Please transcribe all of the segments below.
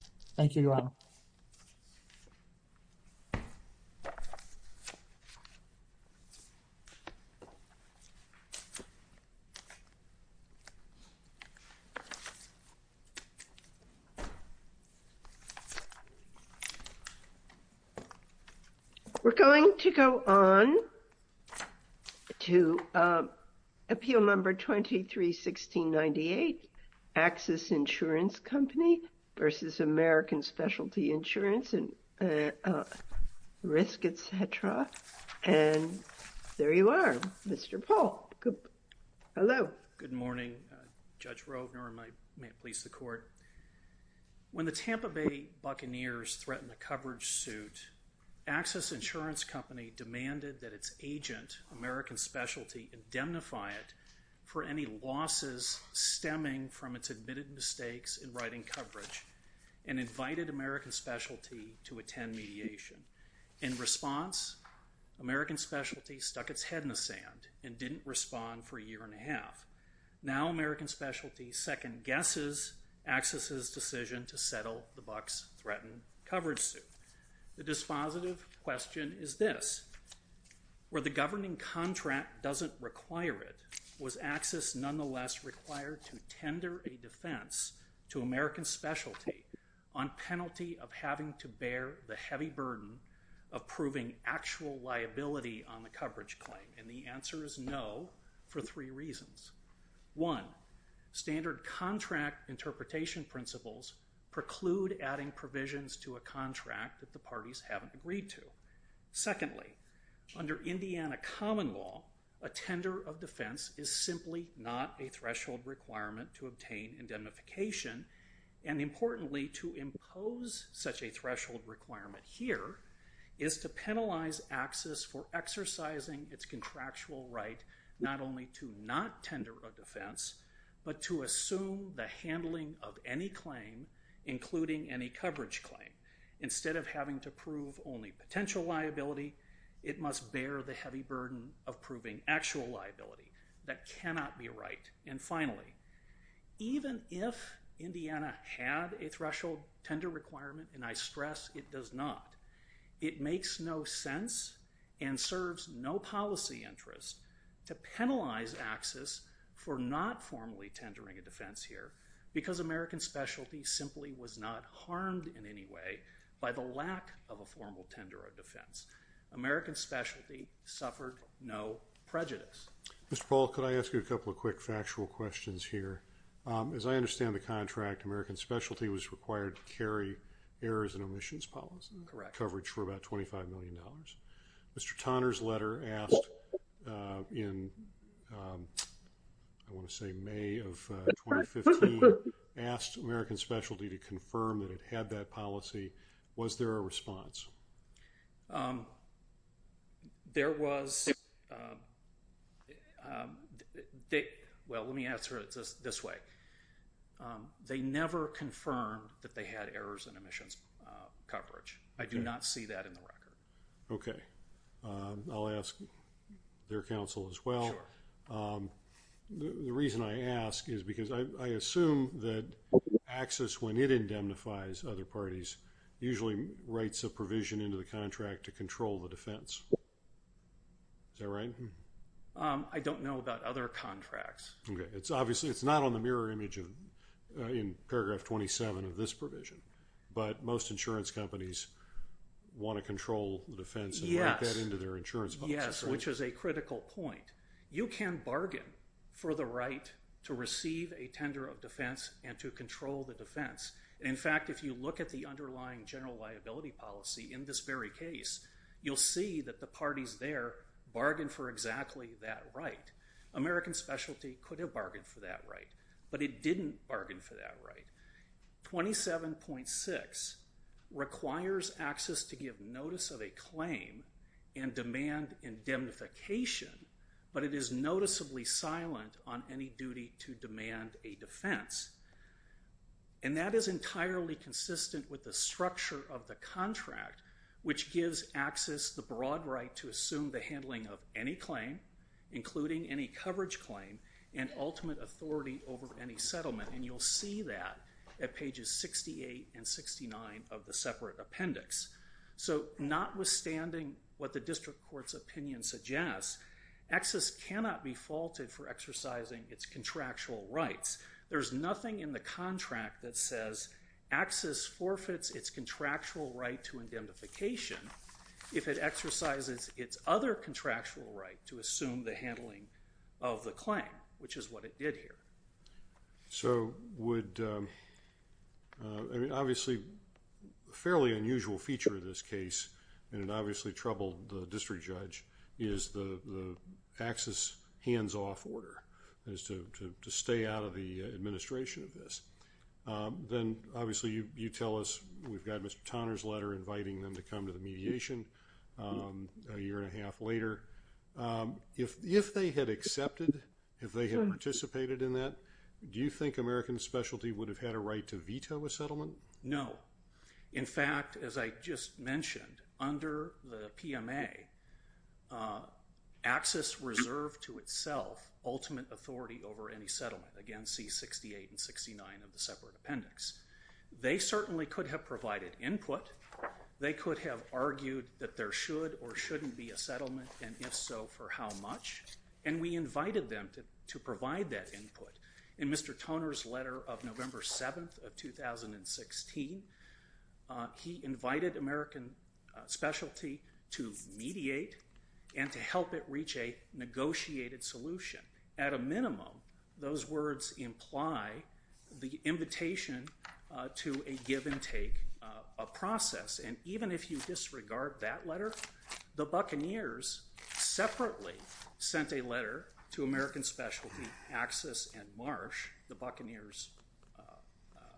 Interest-based Subsidy Applications. We're going to go on to Appeal number 23-1698, Axis Insurance Company versus American Specialty Insurance and Risk, etc. And there you are, Mr. Paul. Hello. Good morning, Judge Rogner, and may it please the court. When the Tampa Bay Buccaneers threatened the coverage suit, Axis Insurance Company demanded that its agent, American Specialty, indemnify it for any losses stemming from its admitted mistakes in writing coverage and invited American Specialty to attend mediation. In response, American Specialty stuck its head in the sand and didn't respond for a year and a half. Now, American Specialty second-guesses Axis's decision to settle the Bucs threatened coverage suit. The dispositive question is this. Where the governing contract doesn't require it, was Axis nonetheless required to tender a defense to American Specialty on penalty of having to bear the heavy burden of proving actual liability on the coverage claim? And the answer is no, for three reasons. One, standard contract interpretation principles preclude adding provisions to a contract that the parties haven't agreed to. Secondly, under Indiana common law, a tender of defense is simply not a threshold requirement to obtain indemnification. And importantly, to impose such a threshold requirement here is to penalize Axis for exercising its contractual right not only to not tender a defense, but to assume the handling of any claim, including any coverage claim. Instead of having to prove only potential liability, it must bear the heavy burden of proving actual liability. That cannot be right. And finally, even if Indiana had a threshold tender requirement, and I stress it does not, it makes no sense and serves no policy interest to penalize Axis for not formally tendering a defense here because American Specialty simply was not harmed in any way by the lack of a formal tender of defense. American Specialty suffered no prejudice. Mr. Paul, could I ask you a couple of quick factual questions here? As I understand the contract, American Specialty was required to carry errors and omissions policy coverage for about $25 million. Mr. Tonner's letter asked in, I want to say May of 2015, asked American Specialty to confirm that it had that policy. Was there a response? There was. Well, let me answer it this way. They never confirmed that they had errors and omissions coverage. I do not see that in the record. Okay. I'll ask their counsel as well. The reason I ask is because I assume that Axis, when it indemnifies other parties, usually writes a provision into the contract to control the defense. Is that right? I don't know about other contracts. It's not on the mirror image in paragraph 27 of this provision, but most insurance companies want to control the defense and write that into their insurance policy. Yes, which is a critical point. You can bargain for the right to receive a tender of defense and to control the defense. In fact, if you look at the underlying general liability policy in this very case, you'll see that the parties there bargain for exactly that right. American Specialty could have bargained for that right, but it didn't bargain for that right. 27.6 requires Axis to give notice of a claim and demand indemnification, but it is noticeably silent on any duty to demand a defense. And that is entirely consistent with the structure of the contract, which gives Axis the broad right to assume the handling of any claim, including any coverage claim, and ultimate authority over any settlement. And you'll see that at pages 68 and 69 of the separate appendix. So notwithstanding what the district court's opinion suggests, Axis cannot be faulted for exercising its contractual rights. There's nothing in the contract that says Axis forfeits its contractual right to indemnification if it exercises its other contractual right to assume the handling of the claim, which is what it did here. So would, I mean, obviously, a fairly unusual feature of this case, and it obviously troubled the district judge, is the Axis hands-off order, is to stay out of the administration of this. Then, obviously, you tell us we've got Mr. Tonner's letter inviting them to come to the later. If they had accepted, if they had participated in that, do you think American Specialty would have had a right to veto a settlement? No. In fact, as I just mentioned, under the PMA, Axis reserved to itself ultimate authority over any settlement. Again, see 68 and 69 of the separate appendix. They certainly could have provided input. They could have argued that there should or shouldn't be a settlement, and if so, for how much. And we invited them to provide that input. In Mr. Tonner's letter of November 7th of 2016, he invited American Specialty to mediate and to help it reach a negotiated solution. At a minimum, those words imply the invitation to a give-and-take process, and even if you disregard that letter, the Buccaneers separately sent a letter to American Specialty, Axis, and Marsh, the Buccaneers'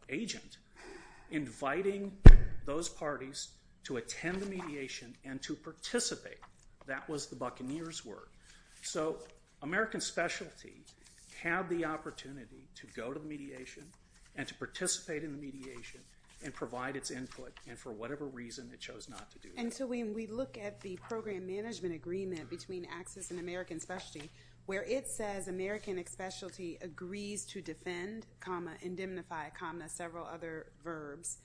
agent, inviting those parties to attend the mediation and to participate. That was the Buccaneers' word. So American Specialty had the opportunity to go to mediation and to participate in the mediation and provide its input, and for whatever reason, it chose not to do that. And so when we look at the program management agreement between Axis and American Specialty, where it says American Specialty agrees to defend, comma, indemnify, comma, several other verbs,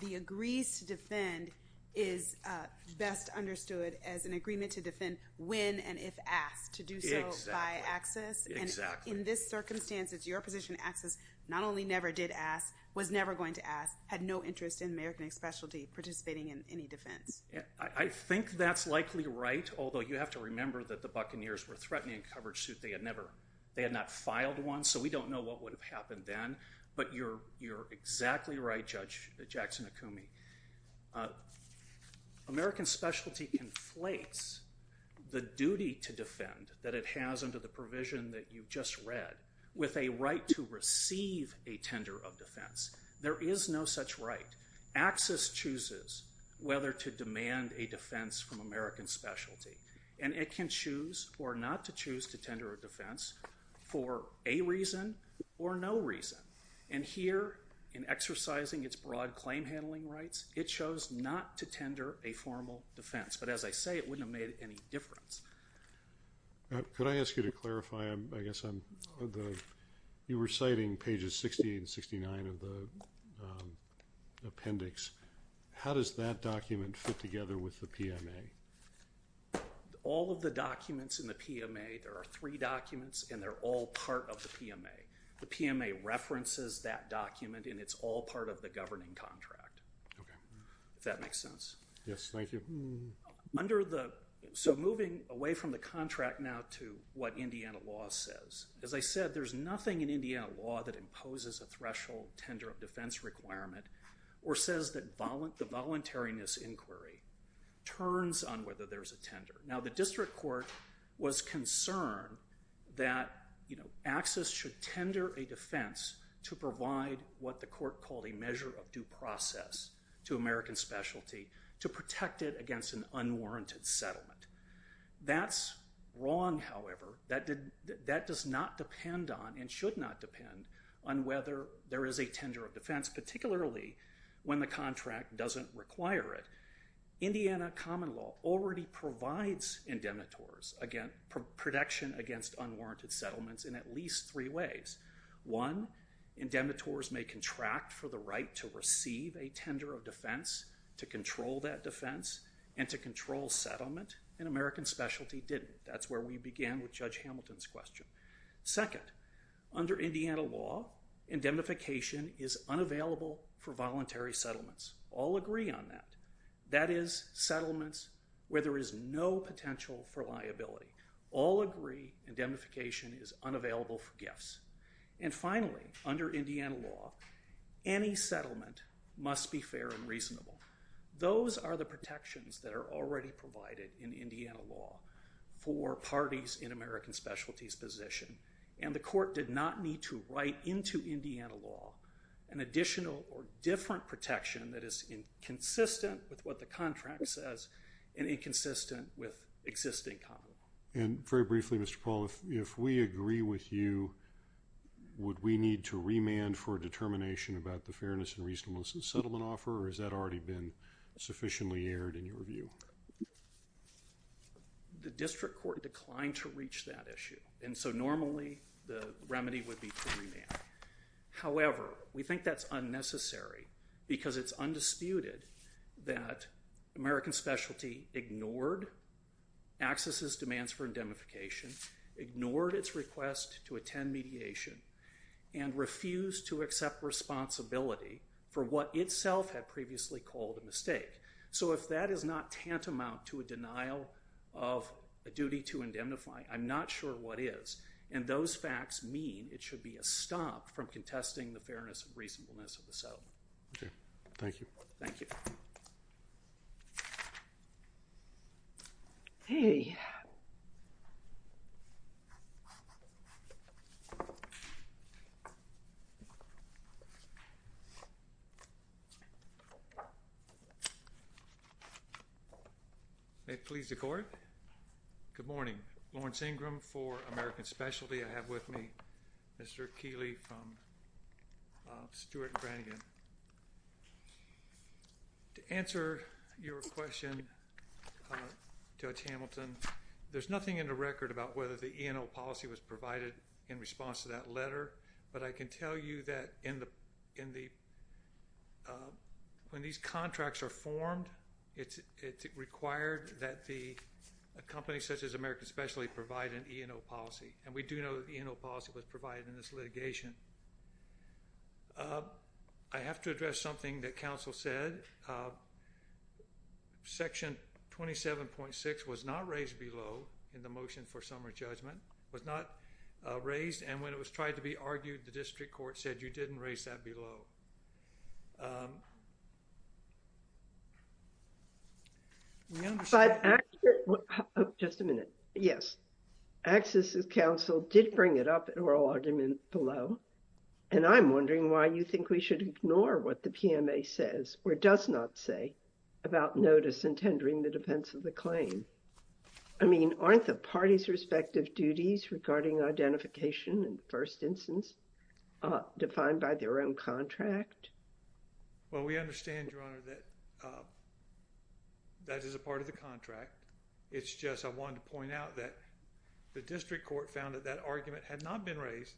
the agrees to defend is best understood as an agreement to defend when and if asked to do so by Axis. And in this circumstance, it's your position that Axis not only never did ask, was never going to ask, had no interest in American Specialty participating in any defense. I think that's likely right, although you have to remember that the Buccaneers were threatening a coverage suit. They had not filed one, so we don't know what would have happened then. But you're exactly right, Judge Jackson-Akumi. American Specialty conflates the duty to defend that it has under the provision that you've just read with a right to receive a tender of defense. There is no such right. Axis chooses whether to demand a defense from American Specialty, and it can choose or not to choose to tender a defense for a reason or no reason. And here in exercising its broad claim handling rights, it chose not to tender a formal defense. But as I say, it wouldn't have made any difference. Could I ask you to clarify, you were citing pages 68 and 69 of the appendix. How does that document fit together with the PMA? All of the documents in the PMA, there are three documents, and they're all part of the PMA. The PMA references that document, and it's all part of the governing contract, if that makes sense. Yes, thank you. So moving away from the contract now to what Indiana law says, as I said, there's nothing in Indiana law that imposes a threshold tender of defense requirement or says the voluntariness inquiry turns on whether there's a tender. Now, the district court was concerned that Axis should tender a defense to provide what the court called a measure of due process to American Specialty to protect it against an unwarranted settlement. That's wrong, however. That does not depend on and should not depend on whether there is a tender of defense, particularly when the contract doesn't require it. Indiana common law already provides indemnitors protection against unwarranted settlements in at least three ways. One, indemnitors may contract for the right to receive a tender of defense to control that defense and to control settlement, and American Specialty didn't. That's where we began with Judge Hamilton's second. Under Indiana law, indemnification is unavailable for voluntary settlements. All agree on that. That is settlements where there is no potential for liability. All agree indemnification is unavailable for gifts. And finally, under Indiana law, any settlement must be fair and reasonable. Those are the protections that are already provided in Indiana law for parties in and the court did not need to write into Indiana law an additional or different protection that is consistent with what the contract says and inconsistent with existing common law. And very briefly, Mr. Paul, if we agree with you, would we need to remand for a determination about the fairness and reasonableness of the settlement offer or has that already been sufficiently aired in your view? Well, the district court declined to reach that issue. And so normally, the remedy would be to remand. However, we think that's unnecessary because it's undisputed that American Specialty ignored AXIS's demands for indemnification, ignored its request to attend mediation, and refused to accept responsibility for what itself had previously called a mistake. So if that is not tantamount to a denial of a duty to indemnify, I'm not sure what is. And those facts mean it should be a stop from contesting the fairness and reasonableness of the settlement. Okay. Thank you. Thank you. Hey. May it please the court. Good morning. Lawrence Ingram for American Specialty. I have with me Mr. Keeley from Stuart and Brannigan. To answer your question, Judge Hamilton, there's nothing in the record about whether the E&O policy was provided in response to that letter. But I can tell you that in the when these contracts are formed, it's required that the company such as American Specialty provide an E&O policy. And we do know that the E&O policy was provided in this litigation. I have to address something that counsel said. Section 27.6 was not raised below in the motion for summary judgment, was not raised. And when it was tried to be argued, the district court said you didn't raise that below. Just a minute. Yes. Accesses counsel did bring it up in oral argument below. And I'm wondering why you think we should ignore what the PMA says or does not say about notice and tendering the defense of the claim. I mean, aren't the parties respective duties regarding identification and instance defined by their own contract? Well, we understand, Your Honor, that that is a part of the contract. It's just I wanted to point out that the district court found that that argument had not been raised.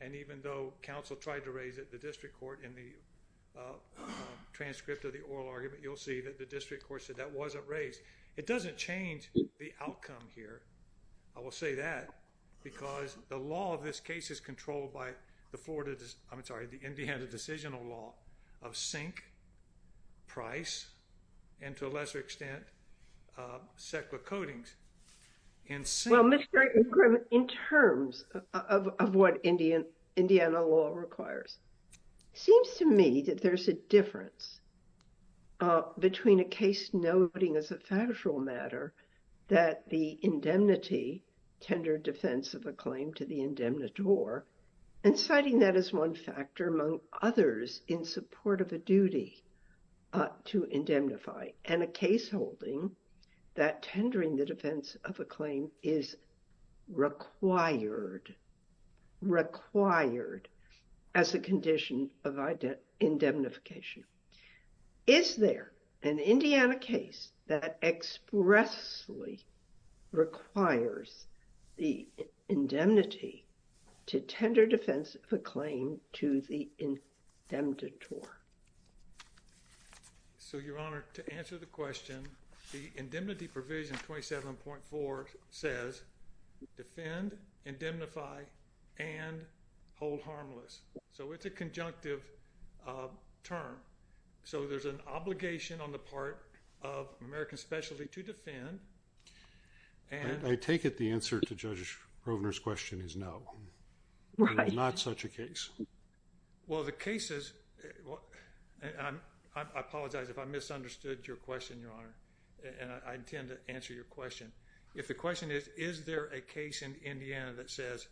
And even though counsel tried to raise it, the district court in the transcript of the oral argument, you'll see that the district court said that wasn't raised. It doesn't change the outcome here. I will say that because the law of this case is controlled by the Florida, I'm sorry, the Indiana Decisional Law of sink, price, and to a lesser extent, sequa coatings. Well, Mr. Grimm, in terms of what Indiana law requires, it seems to me that there's a difference between a case noting as a factual matter that the indemnity tender defense of a claim to the indemnitor and citing that as one factor among others in support of a duty to indemnify and a case holding that tendering the defense of a claim is required, required as a condition of indemnification. Is there an Indiana case that expressly requires the indemnity to tender defense of a claim to the indemnitor? So, Your Honor, to answer the question, the indemnity provision 27.4 says defend, indemnify, and hold harmless. So, it's a conjunctive term. So, there's an obligation on the part of American Specialty to defend. I take it the answer to Judge Rovner's question is no. Right. Not such a case. Well, the cases, I apologize if I misunderstood your question, Your Honor, and I intend to answer your question. If the question is, is there a case in Indiana that says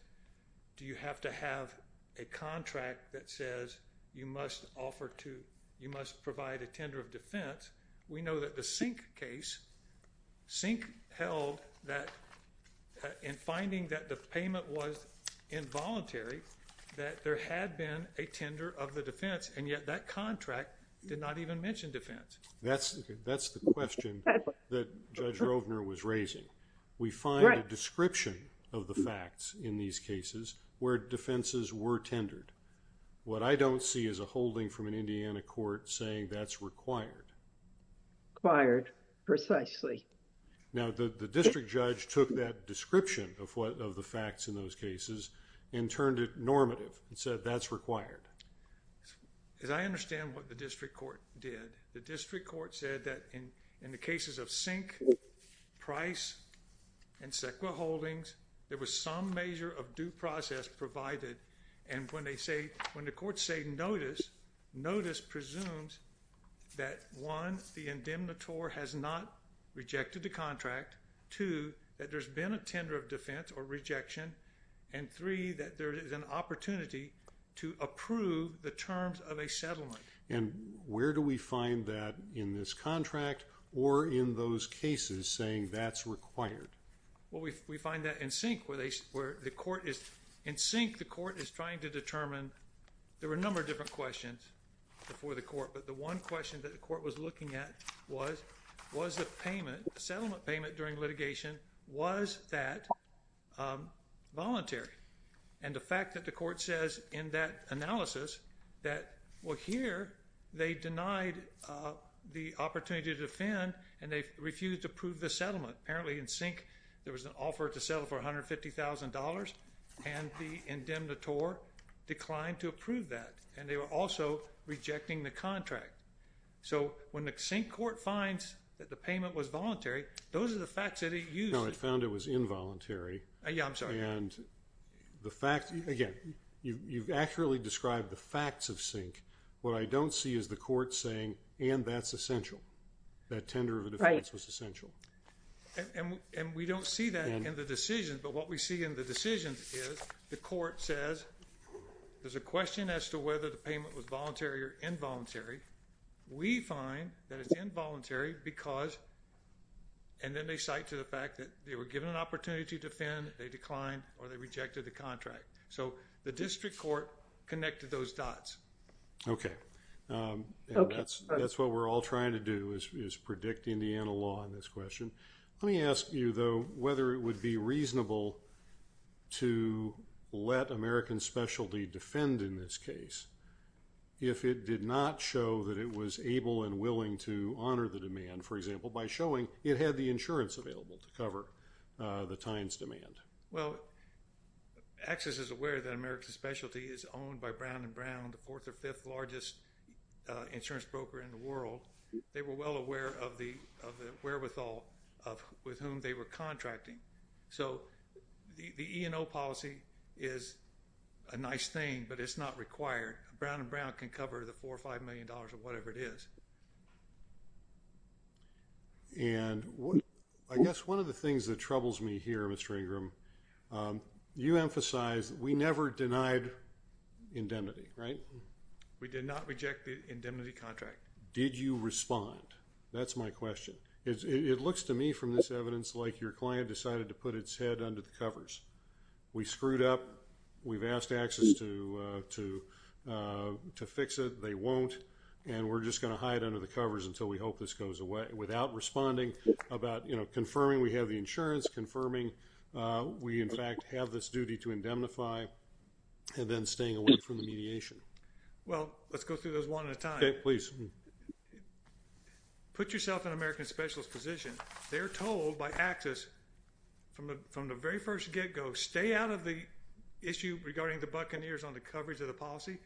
do you have to have a contract that says you must offer to, you must provide a tender of defense, we know that the Sink case, Sink held that in finding that the payment was involuntary that there had been a tender of the defense and yet that contract did not even mention defense. That's the question that Judge Rovner was raising. We find a description of the facts in these cases where defenses were tendered. What I don't see is a holding from an Indiana court saying that's required. Required, precisely. Now, the district judge took that description of the facts in those cases and turned it normative and said that's required. As I understand what the district court did, the district court said that in the cases of Sink, Price, and Sequa Holdings, there was some measure of due process provided and when they say, when the courts say notice, notice presumes that one, the indemnitor has not rejected the contract, two, that there's been a tender of defense or rejection, and three, that there is an opportunity to approve the terms of a settlement. And where do we find that in this contract or in those cases saying that's required? Well, we find that in Sink where the court is, in Sink the court is trying to determine, there were a number of different questions before the court, but the one question that the court was looking at was, was the payment, the settlement payment during litigation, was that voluntary? And the fact that the court says in that analysis that, well, here they denied the opportunity to defend and they refused to approve the settlement. Apparently in Sink there was an offer to settle for $150,000 and the indemnitor declined to approve that and they were also rejecting the contract. So when the Sink court finds that the payment was voluntary, those are the facts that found it was involuntary. Yeah, I'm sorry. And the fact, again, you've accurately described the facts of Sink. What I don't see is the court saying, and that's essential, that tender of the defense was essential. And we don't see that in the decision, but what we see in the decision is the court says, there's a question as to whether the payment was voluntary or involuntary. We find that it's involuntary because, and then they cite to the fact that they were given an opportunity to defend, they declined, or they rejected the contract. So the district court connected those dots. Okay. That's what we're all trying to do is predict Indiana law in this question. Let me ask you though, whether it would be reasonable to let American Specialty defend in this case if it did not show that it was able and willing to honor the demand, for example, by showing it had the insurance available to cover the time's demand. Well, AXIS is aware that American Specialty is owned by Brown & Brown, the fourth or fifth largest insurance broker in the world. They were well aware of the wherewithal of with whom they were contracting. So the E&O policy is a nice thing, but it's not required. Brown & Brown can cover the four or five million dollars of whatever it is. And I guess one of the things that troubles me here, Mr. Ingram, you emphasize we never denied indemnity, right? We did not reject the indemnity contract. Did you respond? That's my question. It looks to me from this evidence like your client decided to put its head under the covers. We screwed up. We've asked AXIS to fix it. They won't. And we're just going to hide under the covers until we hope this goes away. Without responding, confirming we have the insurance, confirming we in fact have this duty to indemnify, and then staying away from the mediation. Well, let's go through those one at a time. Okay, please. Put yourself in American Specialist's position. They're told by AXIS from the very first get-go, stay out of the issue regarding the buccaneers on the coverage of the policy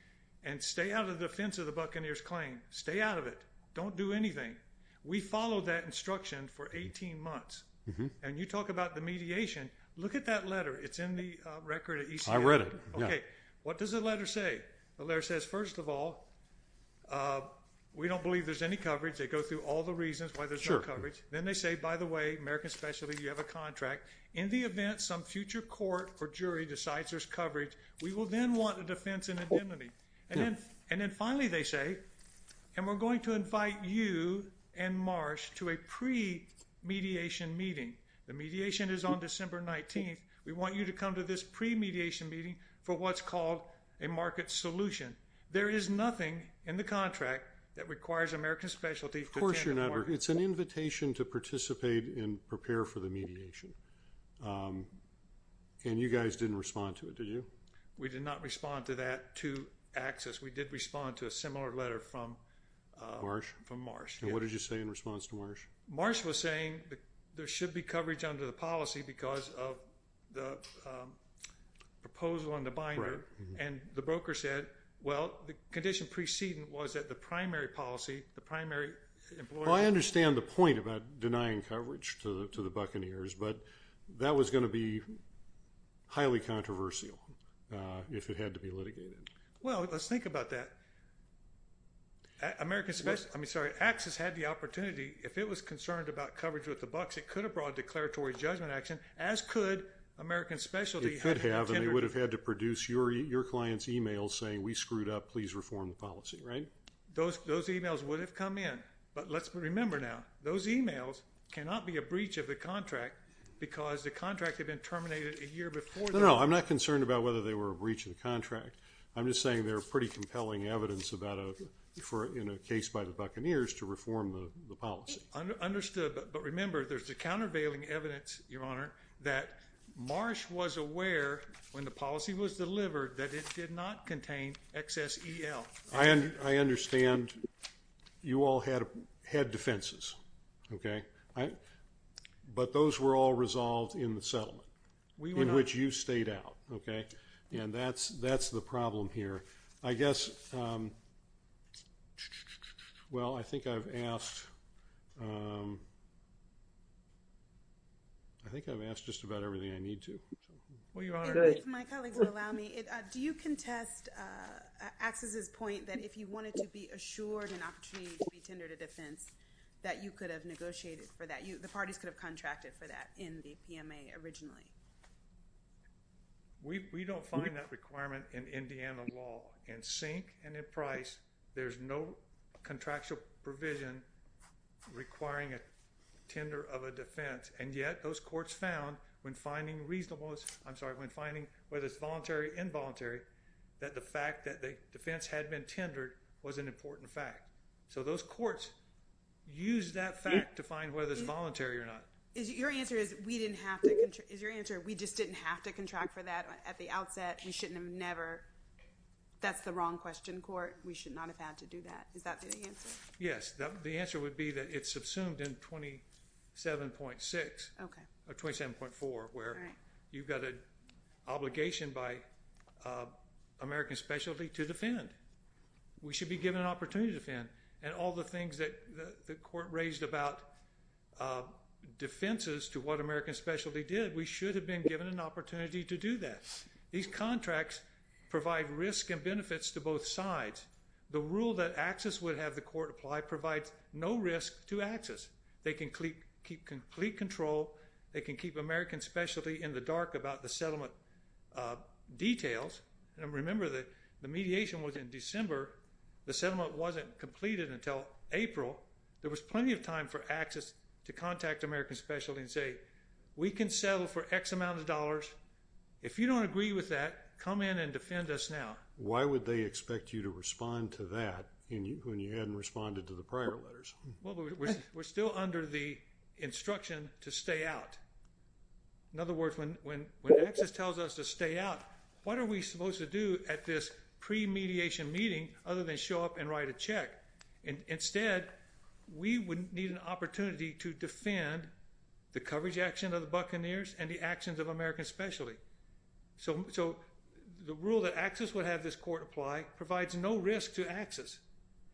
and stay out of the defense of the buccaneers claim. Stay out of it. Don't do anything. We followed that instruction for 18 months. And you talk about the mediation. Look at that letter. It's in the record. I read it. Okay, what does the letter say? The letter says, first of all, we don't believe there's any coverage. They say, by the way, American Specialist, you have a contract. In the event some future court or jury decides there's coverage, we will then want a defense and indemnity. And then finally they say, and we're going to invite you and Marsh to a pre-mediation meeting. The mediation is on December 19th. We want you to come to this pre-mediation meeting for what's called a market solution. There is nothing in the contract that requires American Specialist. Of course, it's an invitation to participate and prepare for the mediation. And you guys didn't respond to it, did you? We did not respond to that to access. We did respond to a similar letter from Marsh. And what did you say in response to Marsh? Marsh was saying there should be coverage under the policy because of the proposal on the binder. And the broker said, well, the condition preceding was that the primary policy, the primary employer. Well, I understand the point about denying coverage to the Buccaneers, but that was going to be highly controversial if it had to be litigated. Well, let's think about that. American Specialist, I mean, sorry, Access had the opportunity. If it was concerned about coverage with the Bucs, it could have brought declaratory judgment action, as could American Specialist. It could have, and they would have had to produce your client's email saying we screwed up. Please reform the policy, right? Those emails would have come in. But let's remember now, those emails cannot be a breach of the contract because the contract had been terminated a year before. No, I'm not concerned about whether they were a breach of the contract. I'm just saying they're pretty compelling evidence in a case by the Buccaneers to reform the policy. Understood. But remember, there's the countervailing evidence, Your Honor, that Marsh was aware when the policy was delivered that it did not contain XSEL. I understand you all had defenses, okay? But those were all resolved in the settlement in which you stayed out, okay? And that's the problem here. I guess, well, I think I've asked just about everything I need to. Well, Your Honor, if my colleagues would allow me, do you contest Access's point that if you wanted to be assured an opportunity to be tendered a defense that you could have negotiated for that? The parties could have contracted for that in the requirement in Indiana law. In sync and in price, there's no contractual provision requiring a tender of a defense. And yet, those courts found when finding reasonable, I'm sorry, when finding whether it's voluntary, involuntary, that the fact that the defense had been tendered was an important fact. So those courts used that fact to find whether it's voluntary or not. Your answer is we didn't have to, is your answer we just didn't have to contract for that at the outset. We shouldn't have never. That's the wrong question, court. We should not have had to do that. Is that the answer? Yes. The answer would be that it's subsumed in 27.6. Okay. Or 27.4, where you've got an obligation by American specialty to defend. We should be given an opportunity to defend. And all the things that the court raised about defenses to what opportunity to do that. These contracts provide risk and benefits to both sides. The rule that Axis would have the court apply provides no risk to Axis. They can keep complete control. They can keep American specialty in the dark about the settlement details. And remember that the mediation was in December. The settlement wasn't completed until April. There was plenty of time for Axis to contact American specialty and say we can settle for X amount of dollars. If you don't agree with that, come in and defend us now. Why would they expect you to respond to that when you hadn't responded to the prior letters? We're still under the instruction to stay out. In other words, when Axis tells us to stay out, what are we supposed to do at this pre-mediation meeting other than show up and write a check? Instead, we would need an opportunity to defend the coverage action of the Buccaneers and the actions of American specialty. So the rule that Axis would have this court apply provides no risk to Axis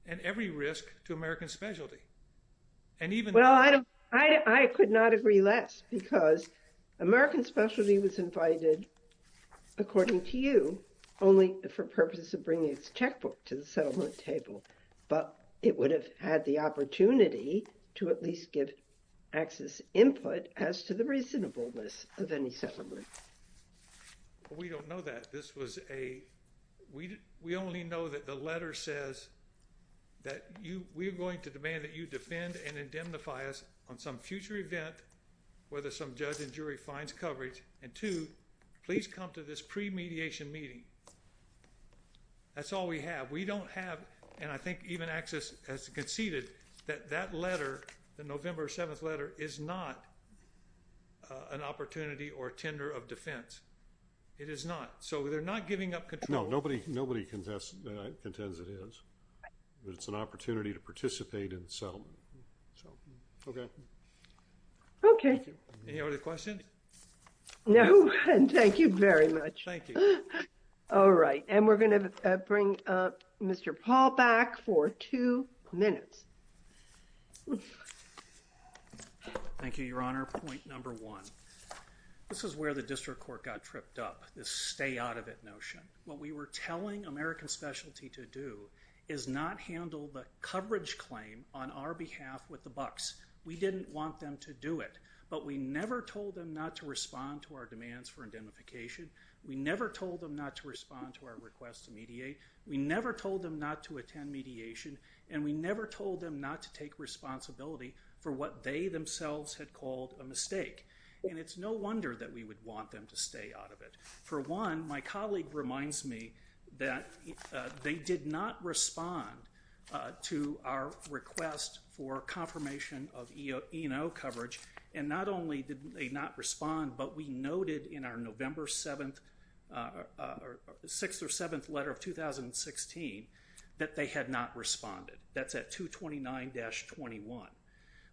and every risk to American specialty. Well, I could not agree less because American specialty was invited, according to you, only for purpose of bringing its checkbook to the settlement table. But it would have had the opportunity to at least give Axis input as to the reasonableness of any settlement. We don't know that. This was a, we only know that the letter says that you, we're going to demand that you defend and indemnify us on some future event whether some judge and jury finds coverage. And two, please come to this pre-mediation meeting. That's all we have. We don't have, and I think even Axis has conceded, that that letter, the November 7th letter, is not an opportunity or tender of defense. It is not. So they're not giving up control. No, nobody contends it is. It's an opportunity to participate in the settlement. So, okay. Okay. Any other questions? No, and thank you very much. Thank you. All right. And we're going to bring Mr. Paul back for two minutes. Thank you, Your Honor. Point number one. This is where the district court got tripped up, this stay out of it notion. What we were telling American specialty to do is not handle the coverage claim on our behalf with the bucks. We didn't want them to do it, but we never told them not to respond to our demands for indemnification. We never told them not to respond to our request to mediate. We never told them not to attend mediation, and we never told them not to take responsibility for what they themselves had called a mistake. And it's no wonder that we would want them to stay out of it. For one, my colleague reminds me that they did not respond to our request for confirmation of E&O coverage. And not only did they not respond, but we noted in our November 6th or 7th letter of 2016 that they had not responded. That's at 229-21.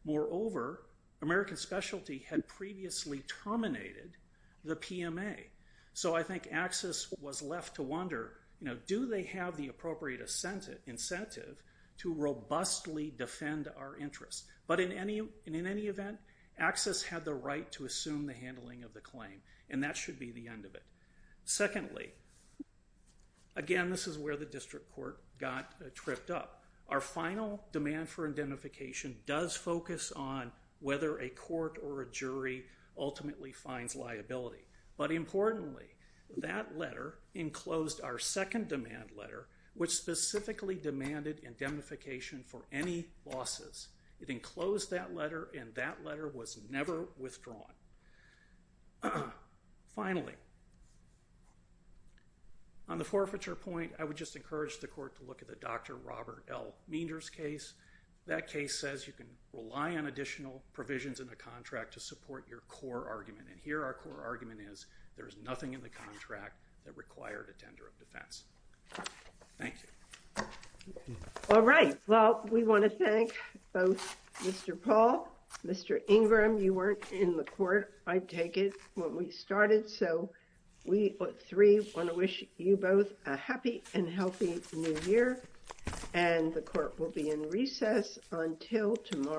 Moreover, American specialty had previously terminated the PMA. So, I think AXIS was left to wonder, do they have the appropriate incentive to robustly defend our interest? But in any event, AXIS had the right to assume the handling of the claim, and that should be the end of it. Secondly, again, this is where the district court got tripped up. Our final demand for indemnification does focus on whether a court or a jury ultimately finds liability. But importantly, that letter enclosed our second demand letter, which specifically demanded indemnification for any losses. It enclosed that letter, and that letter was never withdrawn. Finally, on the forfeiture point, I would just encourage the court to look at the Dr. Robert L. Meander's case. That case says you can rely on additional provisions in the contract to support your core argument, and here our core argument is there is nothing in the contract that required a tender of defense. Thank you. All right. Well, we want to thank both Mr. Paul, Mr. Ingram. You weren't in the court, I take it, when we started. So, we three want to wish you both a happy and healthy new year, and the court will be in recess until tomorrow.